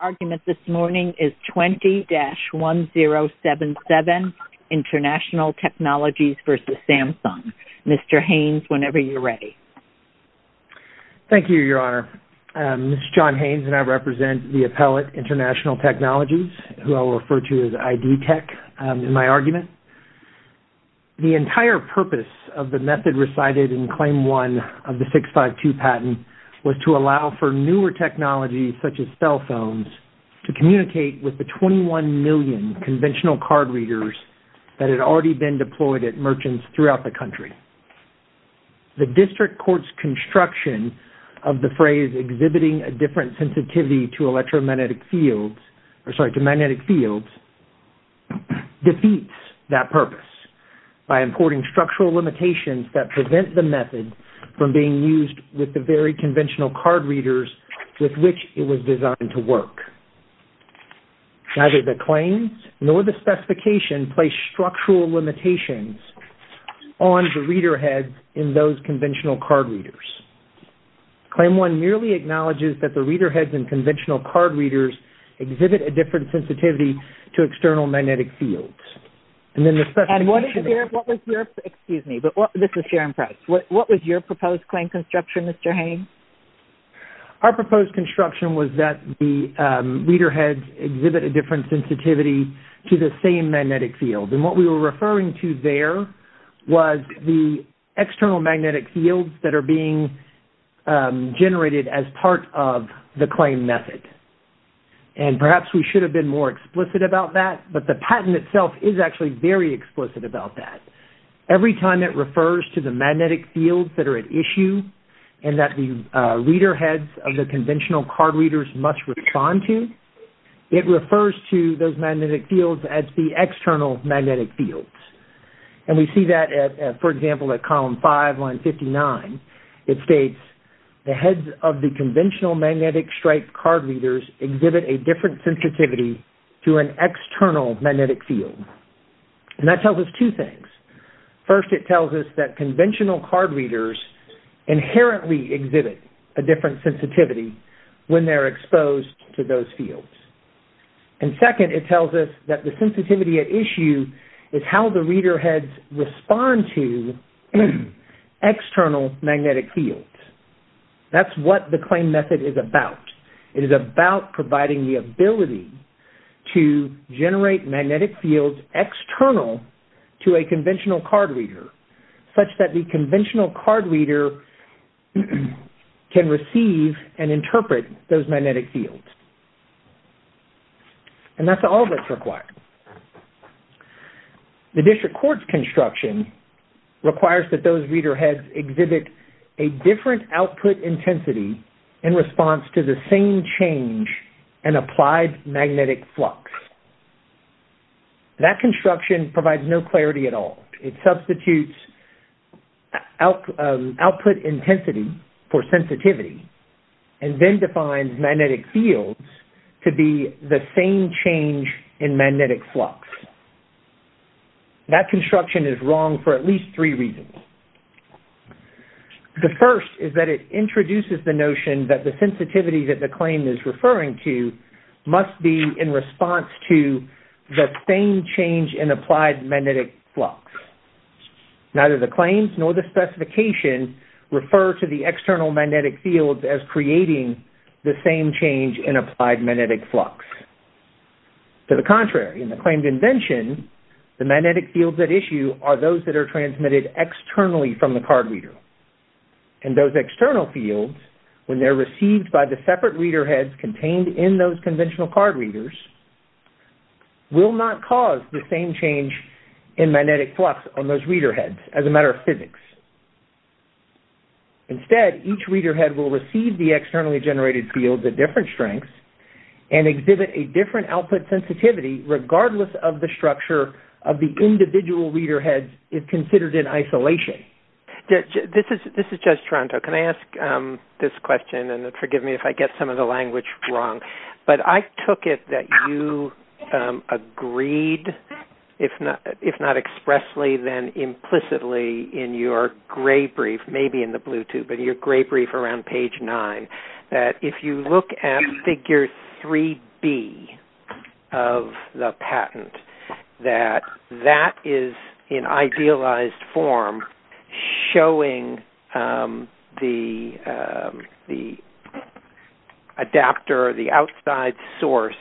The argument this morning is 20-1077, International Technologies v. Samsung. Mr. Haynes, whenever you're ready. Thank you, Your Honor. Mr. John Haynes and I represent the appellate, International Technologies, who I will refer to as ID Tech, in my argument. The entire purpose of the method recited in Claim 1 of the 652 patent was to allow for newer technologies, such as cell phones, to communicate with the 21 million conventional card readers that had already been deployed at merchants throughout the country. The district court's construction of the phrase exhibiting a different sensitivity to electromagnetic fields, or sorry, to magnetic fields, defeats that purpose by importing structural limitations that prevent the method from being used with the very conventional card readers with which it was designed to work. Neither the claims nor the specification place structural limitations on the reader heads in those conventional card readers. Claim 1 merely acknowledges that the reader heads in conventional card readers exhibit a different sensitivity to external magnetic fields. And what was your, excuse me, this is Sharon Price, what was your proposed claim construction, Mr. Haynes? Our proposed construction was that the reader heads exhibit a different sensitivity to the same magnetic field. And what we were referring to there was the external magnetic fields that are being generated as part of the claim method. And perhaps we should have been more explicit about that, but the patent itself is actually very explicit about that. Every time it refers to the magnetic fields that are at issue and that the reader heads of the conventional card readers must respond to, it refers to those magnetic fields as the external magnetic fields. And we see that, for example, at column 5, line 59. It states, the heads of the conventional magnetic stripe card readers exhibit a different sensitivity to an external magnetic field. And that tells us two things. First, it tells us that conventional card readers inherently exhibit a different sensitivity when they're exposed to those fields. And second, it tells us that the sensitivity at issue is how the reader heads respond to external magnetic fields. That's what the claim method is about. It is about providing the ability to generate magnetic fields external to a conventional card reader, such that the conventional card reader can receive and interpret those magnetic fields. And that's all that's required. The district court's construction requires that those reader heads exhibit a different output intensity in response to the same change in applied magnetic flux. That construction provides no clarity at all. It substitutes output intensity for sensitivity and then defines magnetic fields to be the same change in magnetic flux. That construction is wrong for at least three reasons. The first is that it introduces the notion that the sensitivity that the claim is referring to must be in response to the same change in applied magnetic flux. Neither the claims nor the specification refer to the external magnetic fields as creating the same change in applied magnetic flux. To the contrary, in the claimed invention, the magnetic fields at issue are those that are transmitted externally from the card reader. And those external fields, when they're received by the separate reader heads contained in those conventional card readers, will not cause the same change in magnetic flux on those reader heads as a matter of physics. Instead, each reader head will receive the externally generated fields at different strengths and exhibit a different output sensitivity regardless of the structure of the individual reader heads if considered in isolation. This is Judge Toronto. Can I ask this question? And forgive me if I get some of the language wrong. But I took it that you agreed, if not expressly, then implicitly, in your gray brief, maybe in the blue tube, in your gray brief around page 9, that if you look at figure 3B of the patent, that that is, in idealized form, showing the adapter or the outside source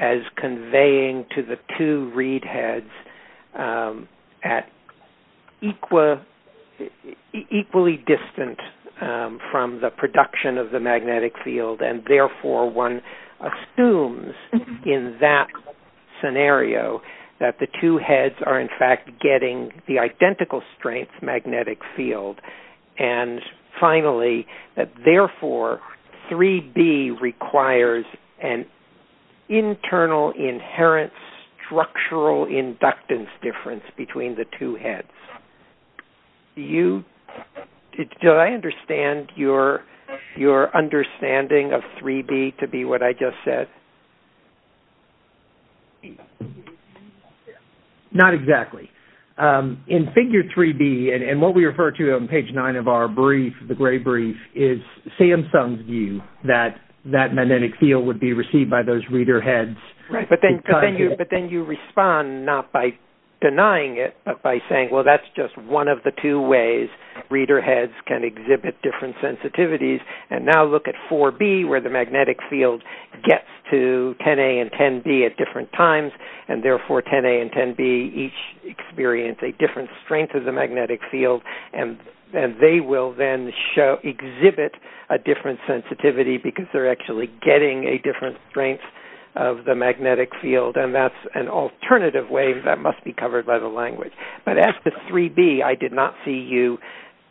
as conveying to the two read heads at equally distant from the production of the magnetic field. And therefore, one assumes in that scenario that the two heads are, in fact, getting the identical strength magnetic field. And finally, therefore, 3B requires an internal inherent structural inductance difference between the two heads. Do I understand your understanding of 3B to be what I just said? Not exactly. In figure 3B, and what we refer to on page 9 of our brief, the gray brief, is Samsung's view that that magnetic field would be received by those reader heads. Right, but then you respond not by denying it, but by saying, well, that's just one of the two ways reader heads can exhibit different sensitivities. And now look at 4B, where the magnetic field gets to 10A and 10B at different times, and therefore 10A and 10B each experience a different strength of the magnetic field, and they will then exhibit a different sensitivity because they're actually getting a different strength of the magnetic field, and that's an alternative way that must be covered by the language. But as to 3B, I did not see you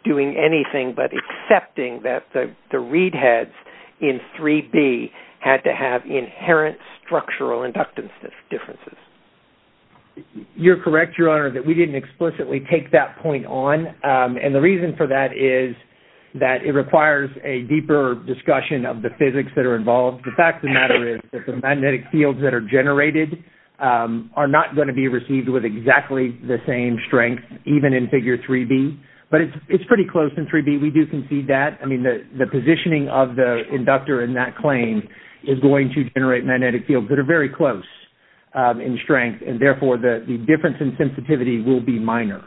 doing anything but accepting that the read heads in 3B had to have inherent structural inductance differences. You're correct, Your Honor, that we didn't explicitly take that point on, and the reason for that is that it requires a deeper discussion of the physics that are involved. The fact of the matter is that the magnetic fields that are generated are not going to be received with exactly the same strength, even in figure 3B, but it's pretty close in 3B. We do concede that. I mean, the positioning of the inductor in that claim is going to generate magnetic fields that are very close in strength, and therefore the difference in sensitivity will be minor.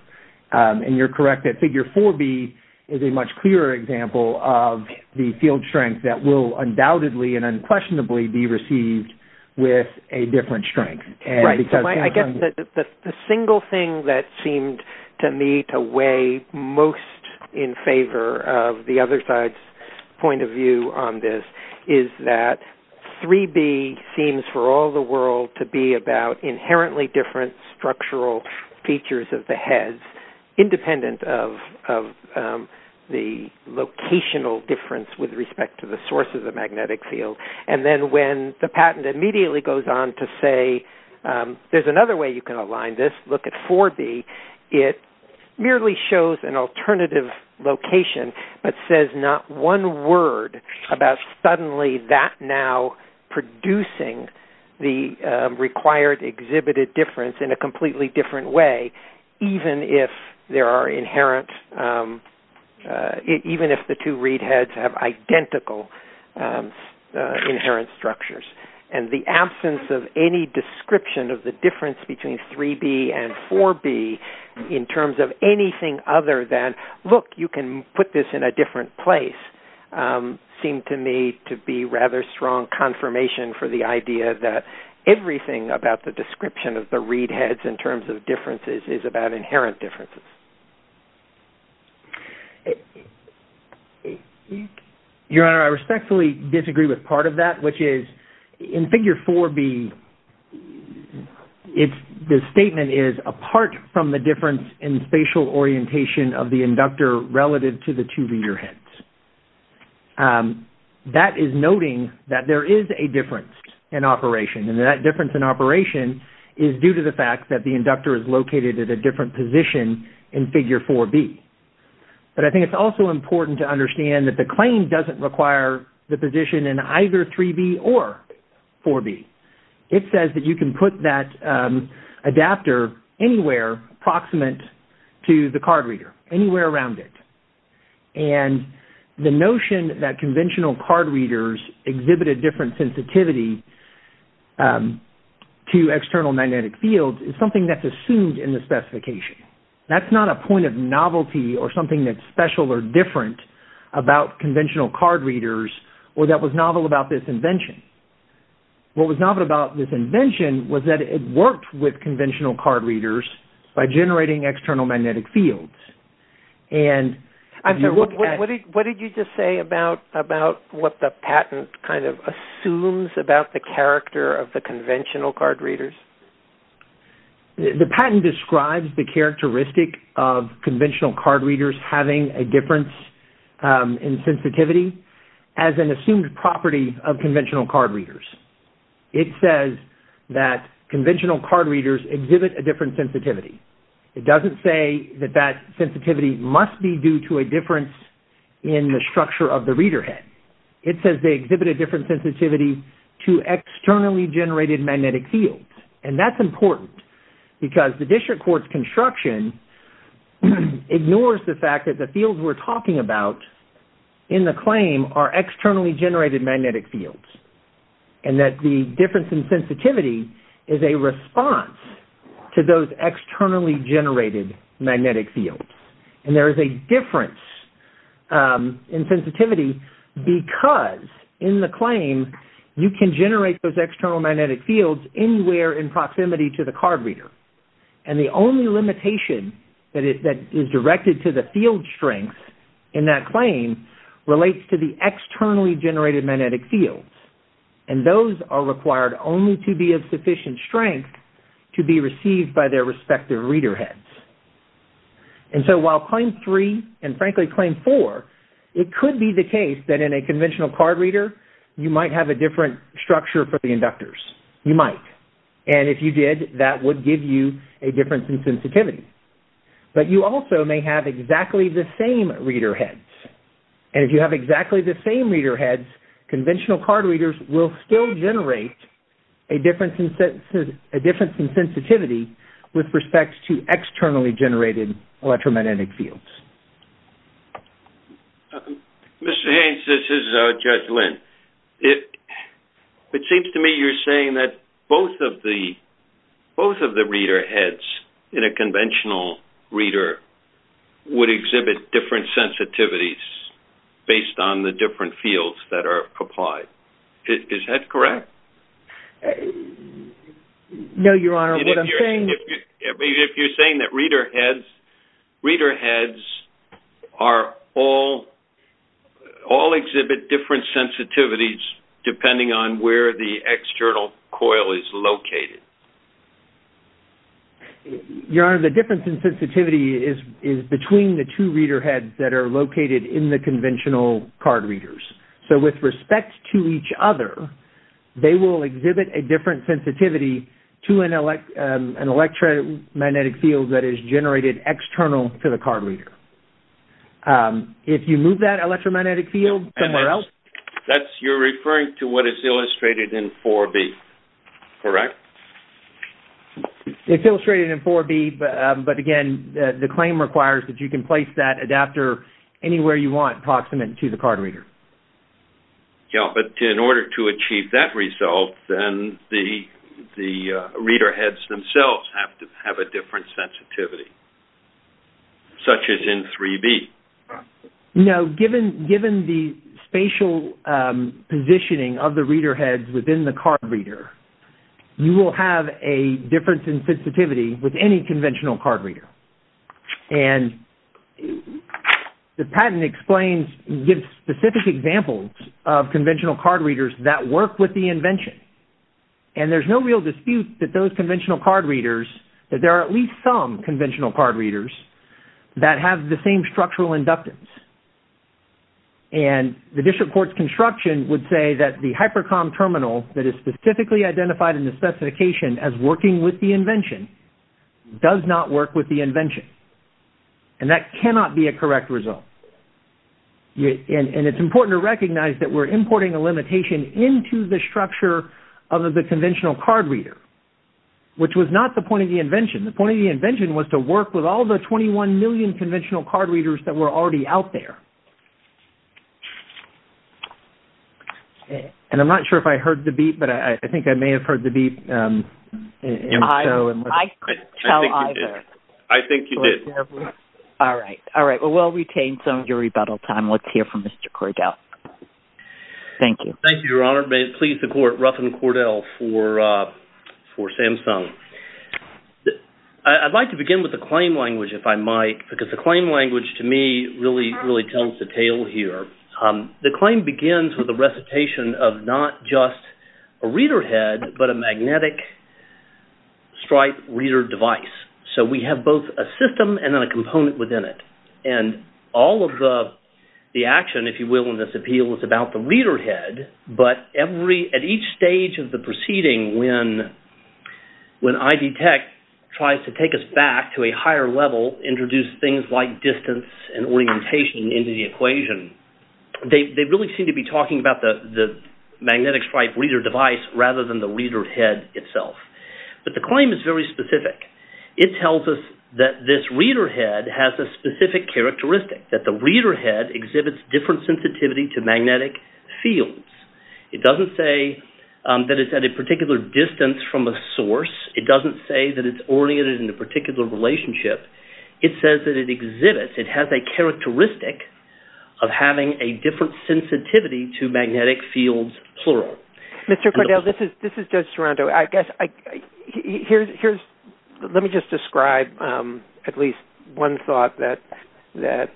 And you're correct that figure 4B is a much clearer example of the field strength that will undoubtedly and unquestionably be received with a different strength. Right. I guess the single thing that seemed to me to weigh most in favor of the other side's point of view on this is that 3B seems for all the world to be about inherently different structural features of the heads, independent of the locational difference with respect to the source of the magnetic field. And then when the patent immediately goes on to say, there's another way you can align this, look at 4B, it merely shows an alternative location but says not one word about suddenly that now producing the required exhibited difference in a completely different way, even if the two read heads have identical inherent structures. And the absence of any description of the difference between 3B and 4B in terms of anything other than, look, you can put this in a different place, seemed to me to be rather strong confirmation for the idea that everything about the description of the read heads in terms of differences is about inherent differences. Your Honor, I respectfully disagree with part of that, which is in Figure 4B, the statement is, apart from the difference in spatial orientation of the inductor relative to the two reader heads. That is noting that there is a difference in operation and that difference in operation is due to the fact that the inductor is located at a different position in Figure 4B. But I think it's also important to understand that the claim doesn't require the position in either 3B or 4B. It says that you can put that adapter anywhere proximate to the card reader, anywhere around it. And the notion that conventional card readers exhibit a different sensitivity to external magnetic fields is something that's assumed in the specification. That's not a point of novelty or something that's special or different about conventional card readers or that was novel about this invention. What was novel about this invention was that it worked with conventional card readers by generating external magnetic fields. What did you just say about what the patent kind of assumes about the character of the conventional card readers? The patent describes the characteristic of conventional card readers having a difference in sensitivity as an assumed property of conventional card readers. It says that conventional card readers exhibit a different sensitivity. It doesn't say that that sensitivity must be due to a difference in the structure of the reader head. It says they exhibit a different sensitivity to externally generated magnetic fields. And that's important because the district court's construction ignores the fact that the fields we're talking about in the claim are externally generated magnetic fields and that the difference in sensitivity is a response to those externally generated magnetic fields. And there is a difference in sensitivity because in the claim you can generate those external magnetic fields anywhere in proximity to the card reader. And the only limitation that is directed to the field strength in that claim relates to the externally generated magnetic fields. And those are required only to be of sufficient strength to be received by their respective reader heads. And so while claim three and frankly claim four, it could be the case that in a conventional card reader you might have a different structure for the inductors. You might. And if you did, that would give you a difference in sensitivity. But you also may have exactly the same reader heads. And if you have exactly the same reader heads, conventional card readers will still generate a difference in sensitivity with respect to externally generated electromagnetic fields. Mr. Haynes, this is Judge Lynn. It seems to me you're saying that both of the reader heads in a conventional reader would exhibit different sensitivities based on the different fields that are applied. Is that correct? No, Your Honor, what I'm saying is... If you're saying that reader heads are all... all exhibit different sensitivities depending on where the external coil is located. Your Honor, the difference in sensitivity is between the two reader heads that are located in the conventional card readers. So with respect to each other, they will exhibit a different sensitivity to an electromagnetic field that is generated external to the card reader. If you move that electromagnetic field somewhere else... You're referring to what is illustrated in 4B, correct? It's illustrated in 4B, but again, the claim requires that you can place that adapter anywhere you want approximate to the card reader. Yeah, but in order to achieve that result, then the reader heads themselves have to have a different sensitivity, such as in 3B. No, given the spatial positioning of the reader heads within the card reader, you will have a difference in sensitivity with any conventional card reader. And the patent explains... gives specific examples of conventional card readers that work with the invention. And there's no real dispute that those conventional card readers... that there are at least some conventional card readers that have the same structural inductance. And the district court's construction would say that the hypercom terminal that is specifically identified in the specification as working with the invention does not work with the invention. And that cannot be a correct result. And it's important to recognize that we're importing a limitation into the structure of the conventional card reader, which was not the point of the invention. The point of the invention was to work with all the 21 million conventional card readers that were already out there. And I'm not sure if I heard the beep, but I think I may have heard the beep. I couldn't tell either. I think you did. All right. All right. Well, we'll retain some of your rebuttal time. Let's hear from Mr. Cordell. Thank you. Thank you, Your Honor. May it please the court, Ruffin Cordell for Samsung. I'd like to begin with the claim language, if I might, because the claim language, to me, really tells the tale here. The claim begins with a recitation of not just a reader head, but a magnetic stripe reader device. So we have both a system and a component within it. And all of the action, if you will, in this appeal is about the reader head, but at each stage of the proceeding, when ID Tech tries to take us back to a higher level, introduce things like distance and orientation into the equation, they really seem to be talking about the magnetic stripe reader device rather than the reader head itself. But the claim is very specific. It tells us that this reader head has a specific characteristic, that the reader head exhibits different sensitivity to magnetic fields. It doesn't say that it's at a particular distance from a source. It doesn't say that it's oriented in a particular relationship. It says that it exhibits, it has a characteristic of having a different sensitivity to magnetic fields, plural. Mr. Cordell, this is Judge Sorrento. Let me just describe at least one thought that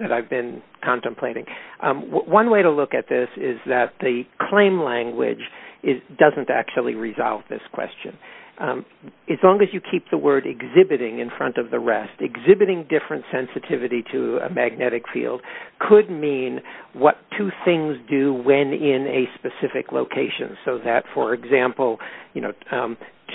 I've been contemplating. One way to look at this is that the claim language doesn't actually resolve this question. As long as you keep the word exhibiting in front of the rest, exhibiting different sensitivity to a magnetic field could mean what two things do when in a specific location. So that, for example,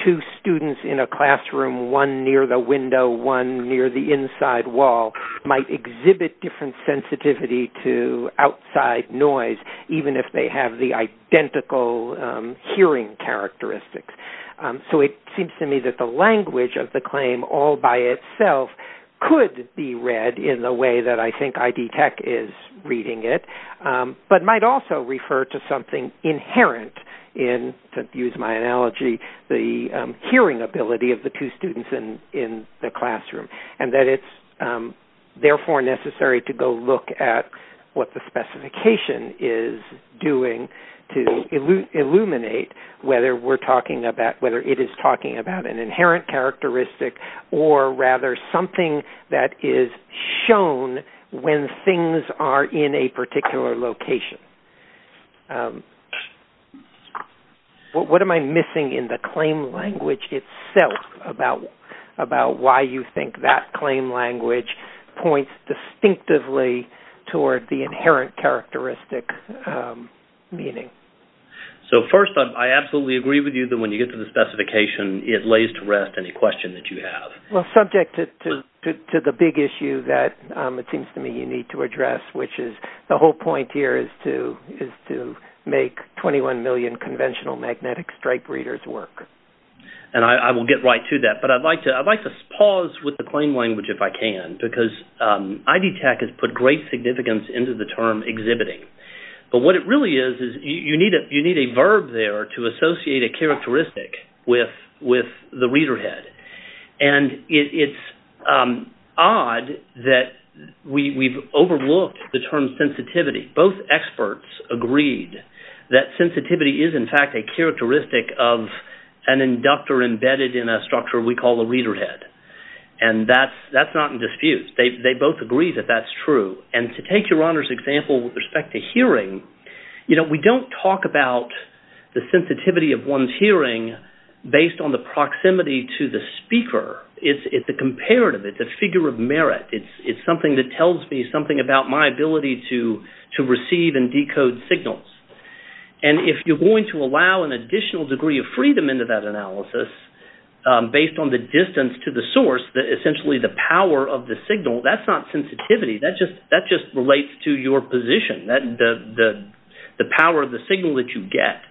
two students in a classroom, one near the window, one near the inside wall, might exhibit different sensitivity to outside noise, even if they have the identical hearing characteristics. So it seems to me that the language of the claim all by itself could be read in the way that I think ID Tech is reading it, but might also refer to something inherent in, to use my analogy, the hearing ability of the two students in the classroom, and that it's therefore necessary to go look at what the specification is doing to illuminate whether it is talking about an inherent characteristic, or rather something that is shown when things are in a particular location. What am I missing in the claim language itself about why you think that claim language points distinctively toward the inherent characteristic meaning? So first, I absolutely agree with you that when you get to the specification, it lays to rest any question that you have. Well, subject to the big issue that, it seems to me, you need to address, which is the whole point here is to make 21 million conventional magnetic stripe readers work. And I will get right to that, but I'd like to pause with the claim language if I can, because ID Tech has put great significance into the term exhibiting, but what it really is is you need a verb there to associate a characteristic with the reader head. And it's odd that we've overlooked the term sensitivity. Both experts agreed that sensitivity is in fact a characteristic of an inductor embedded in a structure we call a reader head. And that's not in dispute. They both agree that that's true. And to take your honor's example with respect to hearing, we don't talk about the sensitivity of one's hearing based on the proximity to the speaker. It's a comparative, it's a figure of merit. It's something that tells me something about my ability to receive and decode signals. And if you're going to allow an additional degree of freedom into that analysis based on the distance to the source, essentially the power of the signal, that's not sensitivity. That just relates to your position, the power of the signal that you get.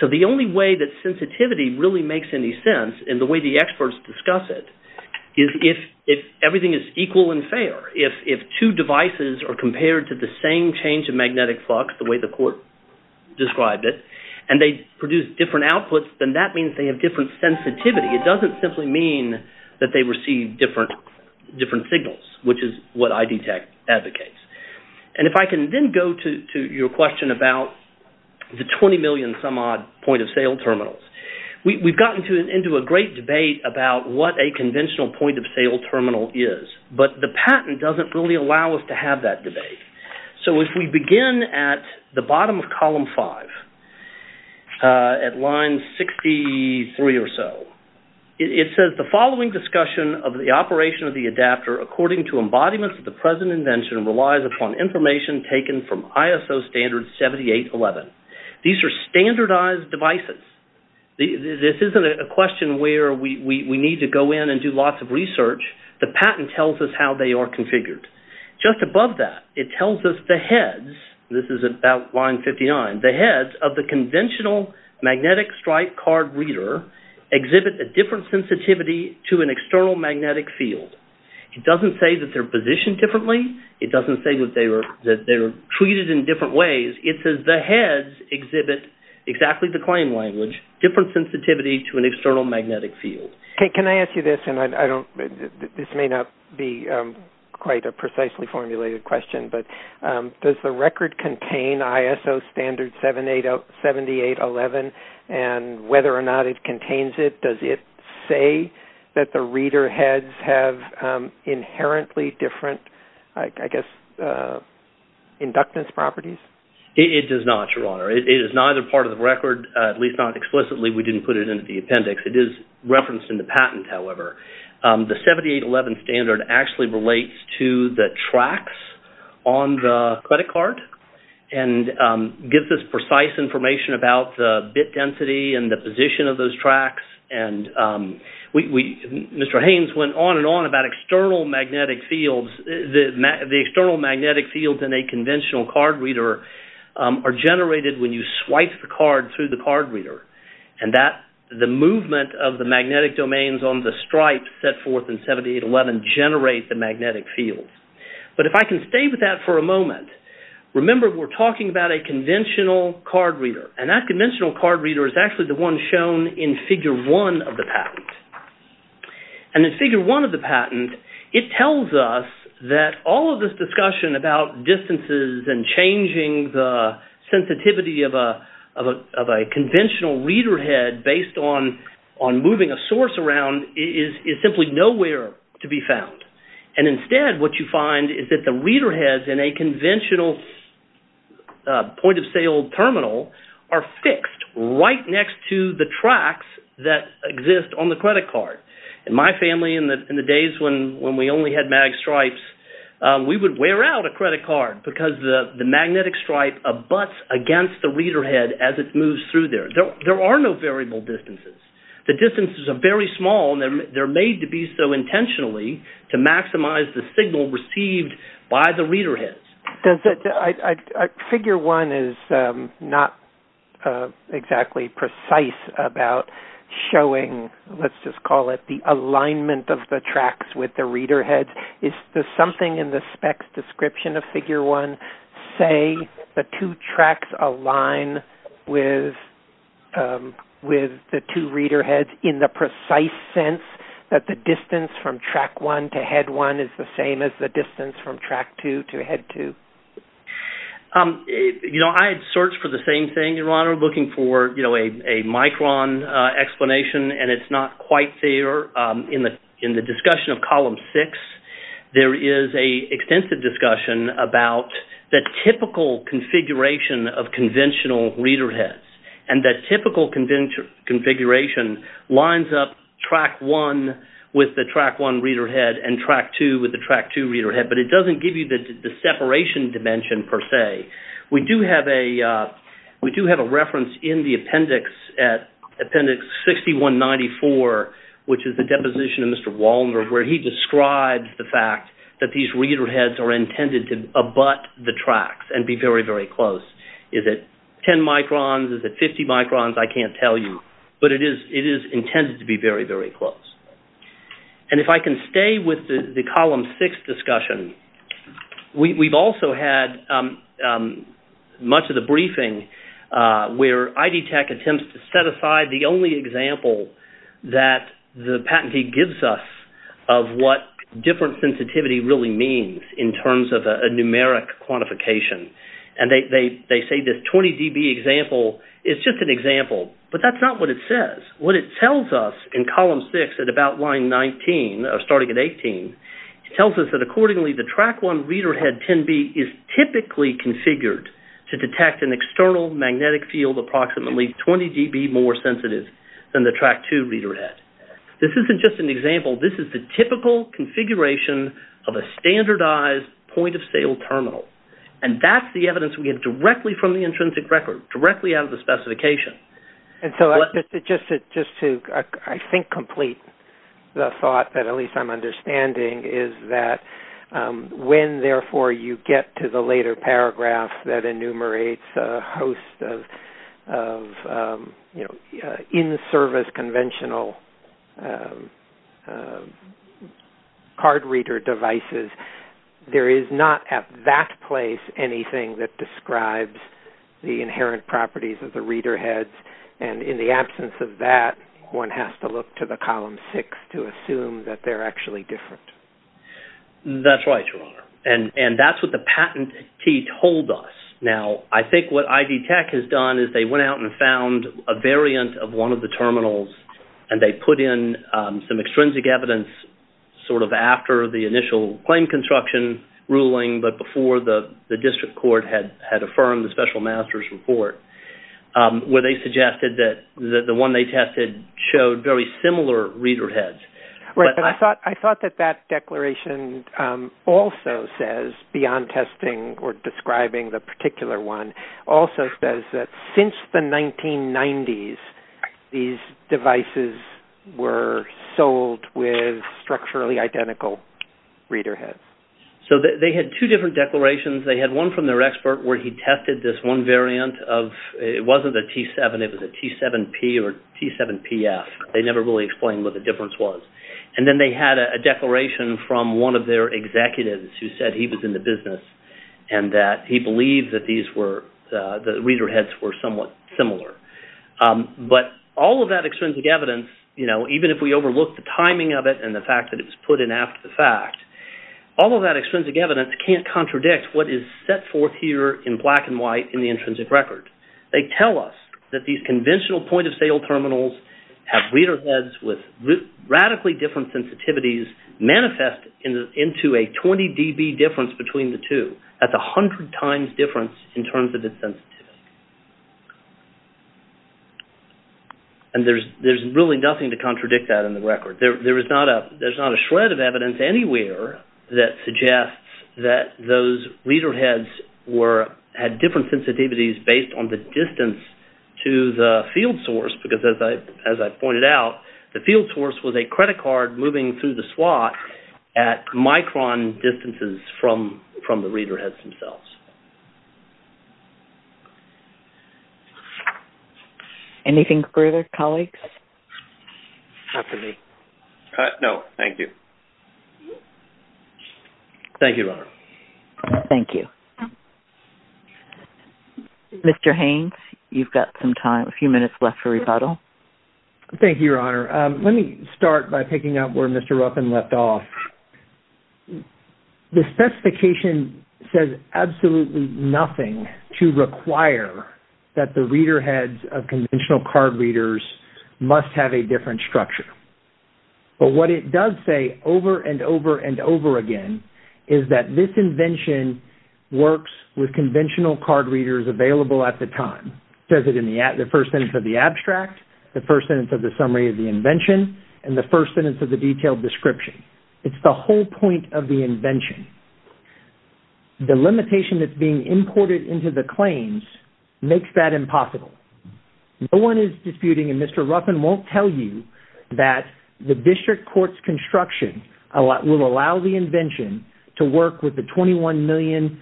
So the only way that sensitivity really makes any sense in the way the experts discuss it is if everything is equal and fair. If two devices are compared to the same change of magnetic flux the way the court described it, and they produce different outputs, then that means they have different sensitivity. It doesn't simply mean that they receive different signals, which is what ID Tech advocates. And if I can then go to your question about the 20 million-some-odd point-of-sale terminals. We've gotten into a great debate about what a conventional point-of-sale terminal is, but the patent doesn't really allow us to have that debate. So if we begin at the bottom of column five, at line 63 or so, it says, that the following discussion of the operation of the adapter according to embodiments of the present invention relies upon information taken from ISO standard 7811. These are standardized devices. This isn't a question where we need to go in and do lots of research. The patent tells us how they are configured. Just above that, it tells us the heads, this is about line 59, the heads of the conventional magnetic stripe card reader exhibit a different sensitivity to an external magnetic field. It doesn't say that they're positioned differently. It doesn't say that they're treated in different ways. It says the heads exhibit exactly the claim language, different sensitivity to an external magnetic field. Can I ask you this? This may not be quite a precisely formulated question, but does the record contain ISO standard 7811 and whether or not it contains it, does it say that the reader heads have inherently different, I guess, inductance properties? It does not, Your Honor. It is neither part of the record, at least not explicitly. We didn't put it into the appendix. It is referenced in the patent, however. The 7811 standard actually relates to the tracks on the credit card and gives us precise information about the bit density and the position of those tracks. Mr. Haynes went on and on about external magnetic fields. The external magnetic fields in a conventional card reader are generated when you swipe the card through the card reader and the movement of the magnetic domains on the stripe set forth in 7811 generate the magnetic fields. But if I can stay with that for a moment, remember we're talking about a conventional card reader and that conventional card reader is actually the one shown in Figure 1 of the patent. In Figure 1 of the patent, it tells us that all of this discussion about distances and changing the sensitivity of a conventional reader head based on moving a source around is simply nowhere to be found. Instead, what you find is that the reader heads in a conventional point-of-sale terminal are fixed right next to the tracks that exist on the credit card. In my family, in the days when we only had mag stripes, we would wear out a credit card because the magnetic stripe abuts against the reader head as it moves through there. There are no variable distances. The distances are very small and they're made to be so intentionally to maximize the signal received by the reader heads. Figure 1 is not exactly precise about showing, let's just call it, the alignment of the tracks with the reader heads. Is there something in the specs description of Figure 1 say the two tracks align with the two reader heads in the precise sense that the distance from Track 1 to Head 1 is the same as the distance from Track 2 to Head 2? I had searched for the same thing, Your Honor, looking for a micron explanation, and it's not quite there. In the discussion of Column 6, there is an extensive discussion about the typical configuration of conventional reader heads, and that typical configuration lines up Track 1 with the Track 1 reader head and Track 2 with the Track 2 reader head, but it doesn't give you the separation dimension per se. We do have a reference in the appendix, at Appendix 6194, which is the deposition of Mr. Wallner, where he describes the fact that these reader heads are intended to abut the tracks and be very, very close. Is it 10 microns? Is it 50 microns? I can't tell you, but it is intended to be very, very close. And if I can stay with the Column 6 discussion, we've also had much of the briefing where ID Tech attempts to set aside the only example that the patentee gives us of what different sensitivity really means in terms of a numeric quantification, and they say this 20 dB example is just an example, but that's not what it says. What it tells us in Column 6 at about line 19, starting at 18, it tells us that accordingly the Track 1 reader head 10B is typically configured to detect an external magnetic field approximately 20 dB more sensitive than the Track 2 reader head. This isn't just an example. This is the typical configuration of a standardized point-of-sale terminal, and that's the evidence we have directly from the intrinsic record, directly out of the specification. And so just to, I think, complete the thought that at least I'm understanding, is that when, therefore, you get to the later paragraph that enumerates a host of, you know, in-service conventional card reader devices, there is not at that place anything that describes the inherent properties of the reader heads, and in the absence of that, one has to look to the Column 6 to assume that they're actually different. That's right, Your Honor, and that's what the patentee told us. Now, I think what ID Tech has done is they went out and found a variant of one of the terminals, and they put in some extrinsic evidence sort of after the initial claim construction ruling but before the district court had affirmed the special master's report, where they suggested that the one they tested showed very similar reader heads. Right, and I thought that that declaration also says, beyond testing or describing the particular one, also says that since the 1990s, these devices were sold with structurally identical reader heads. So they had two different declarations. They had one from their expert where he tested this one variant of... It wasn't a T7. It was a T7P or T7PF. They never really explained what the difference was, and then they had a declaration from one of their executives who said he was in the business and that he believed that these were... the reader heads were somewhat similar, but all of that extrinsic evidence, you know, even if we overlook the timing of it and the fact that it was put in after the fact, all of that extrinsic evidence can't contradict what is set forth here in black and white in the intrinsic record. They tell us that these conventional point-of-sale terminals have reader heads with radically different sensitivities manifest into a 20 dB difference between the two. That's a hundred times difference in terms of its sensitivity. And there's really nothing to contradict that in the record. There's not a shred of evidence anywhere that suggests that those reader heads had different sensitivities based on the distance to the field source because, as I pointed out, the field source was a credit card moving through the slot at micron distances from the reader heads themselves. Anything further, colleagues? Not to me. No, thank you. Thank you, Your Honor. Thank you. Mr. Haynes, you've got some time, a few minutes left for rebuttal. Thank you, Your Honor. Let me start by picking up where Mr. Ruffin left off. The specification says absolutely nothing to require that the reader heads of conventional card readers must have a different structure. But what it does say over and over and over again is that this invention works with conventional card readers available at the time. It says it in the first sentence of the abstract, the first sentence of the summary of the invention, It's the whole point of the invention. The limitation that's being imported into the claims makes that impossible. No one is disputing, and Mr. Ruffin won't tell you, that the district court's construction will allow the invention to work with the 21 million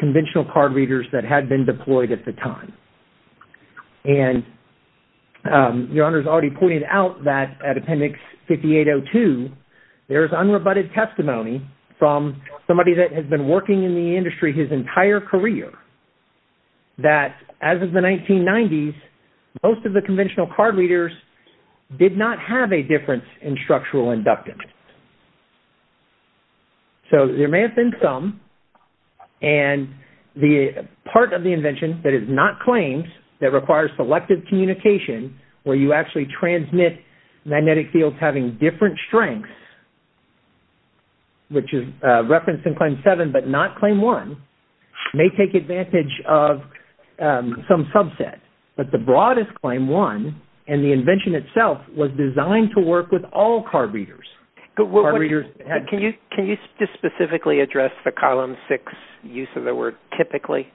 conventional card readers that had been deployed at the time. And Your Honor's already pointed out that at Appendix 5802, there is unrebutted testimony from somebody that has been working in the industry his entire career that as of the 1990s, most of the conventional card readers did not have a difference in structural inductance. So there may have been some, and the part of the invention that is not claimed that requires selective communication where you actually transmit magnetic fields of having different strengths, which is referenced in Claim 7 but not Claim 1, may take advantage of some subset. But the broadest Claim 1, and the invention itself, was designed to work with all card readers. Can you just specifically address the Column 6 use of the word typically?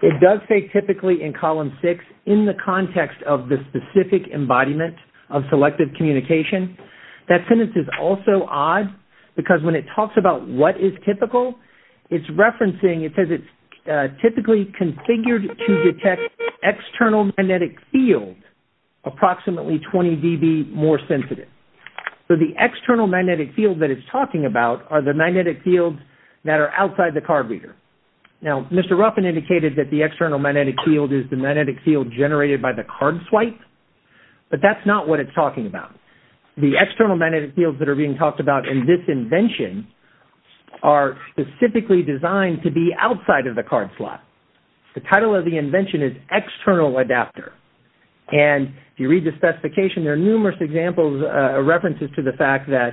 It does say typically in Column 6 in the context of the specific embodiment of selective communication. That sentence is also odd because when it talks about what is typical, it's referencing, it says it's typically configured to detect external magnetic field approximately 20 dB more sensitive. So the external magnetic field that it's talking about are the magnetic fields that are outside the card reader. Now, Mr. Ruffin indicated that the external magnetic field is the magnetic field generated by the card swipe, but that's not what it's talking about. The external magnetic fields that are being talked about in this invention are specifically designed to be outside of the card swipe. The title of the invention is External Adapter. And if you read the specification, there are numerous examples, references to the fact that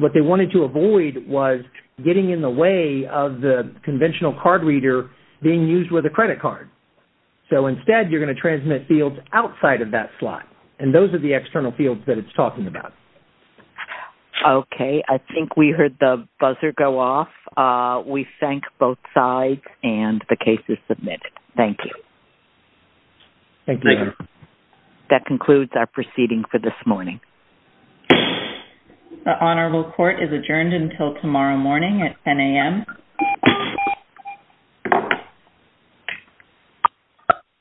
what they wanted to avoid was getting in the way of the conventional card reader being used with a credit card. So instead, you're going to transmit fields outside of that slot. And those are the external fields that it's talking about. Okay, I think we heard the buzzer go off. We thank both sides and the case is submitted. Thank you. Thank you. That concludes our proceeding for this morning. The Honorable Court is adjourned until tomorrow morning at 10 a.m.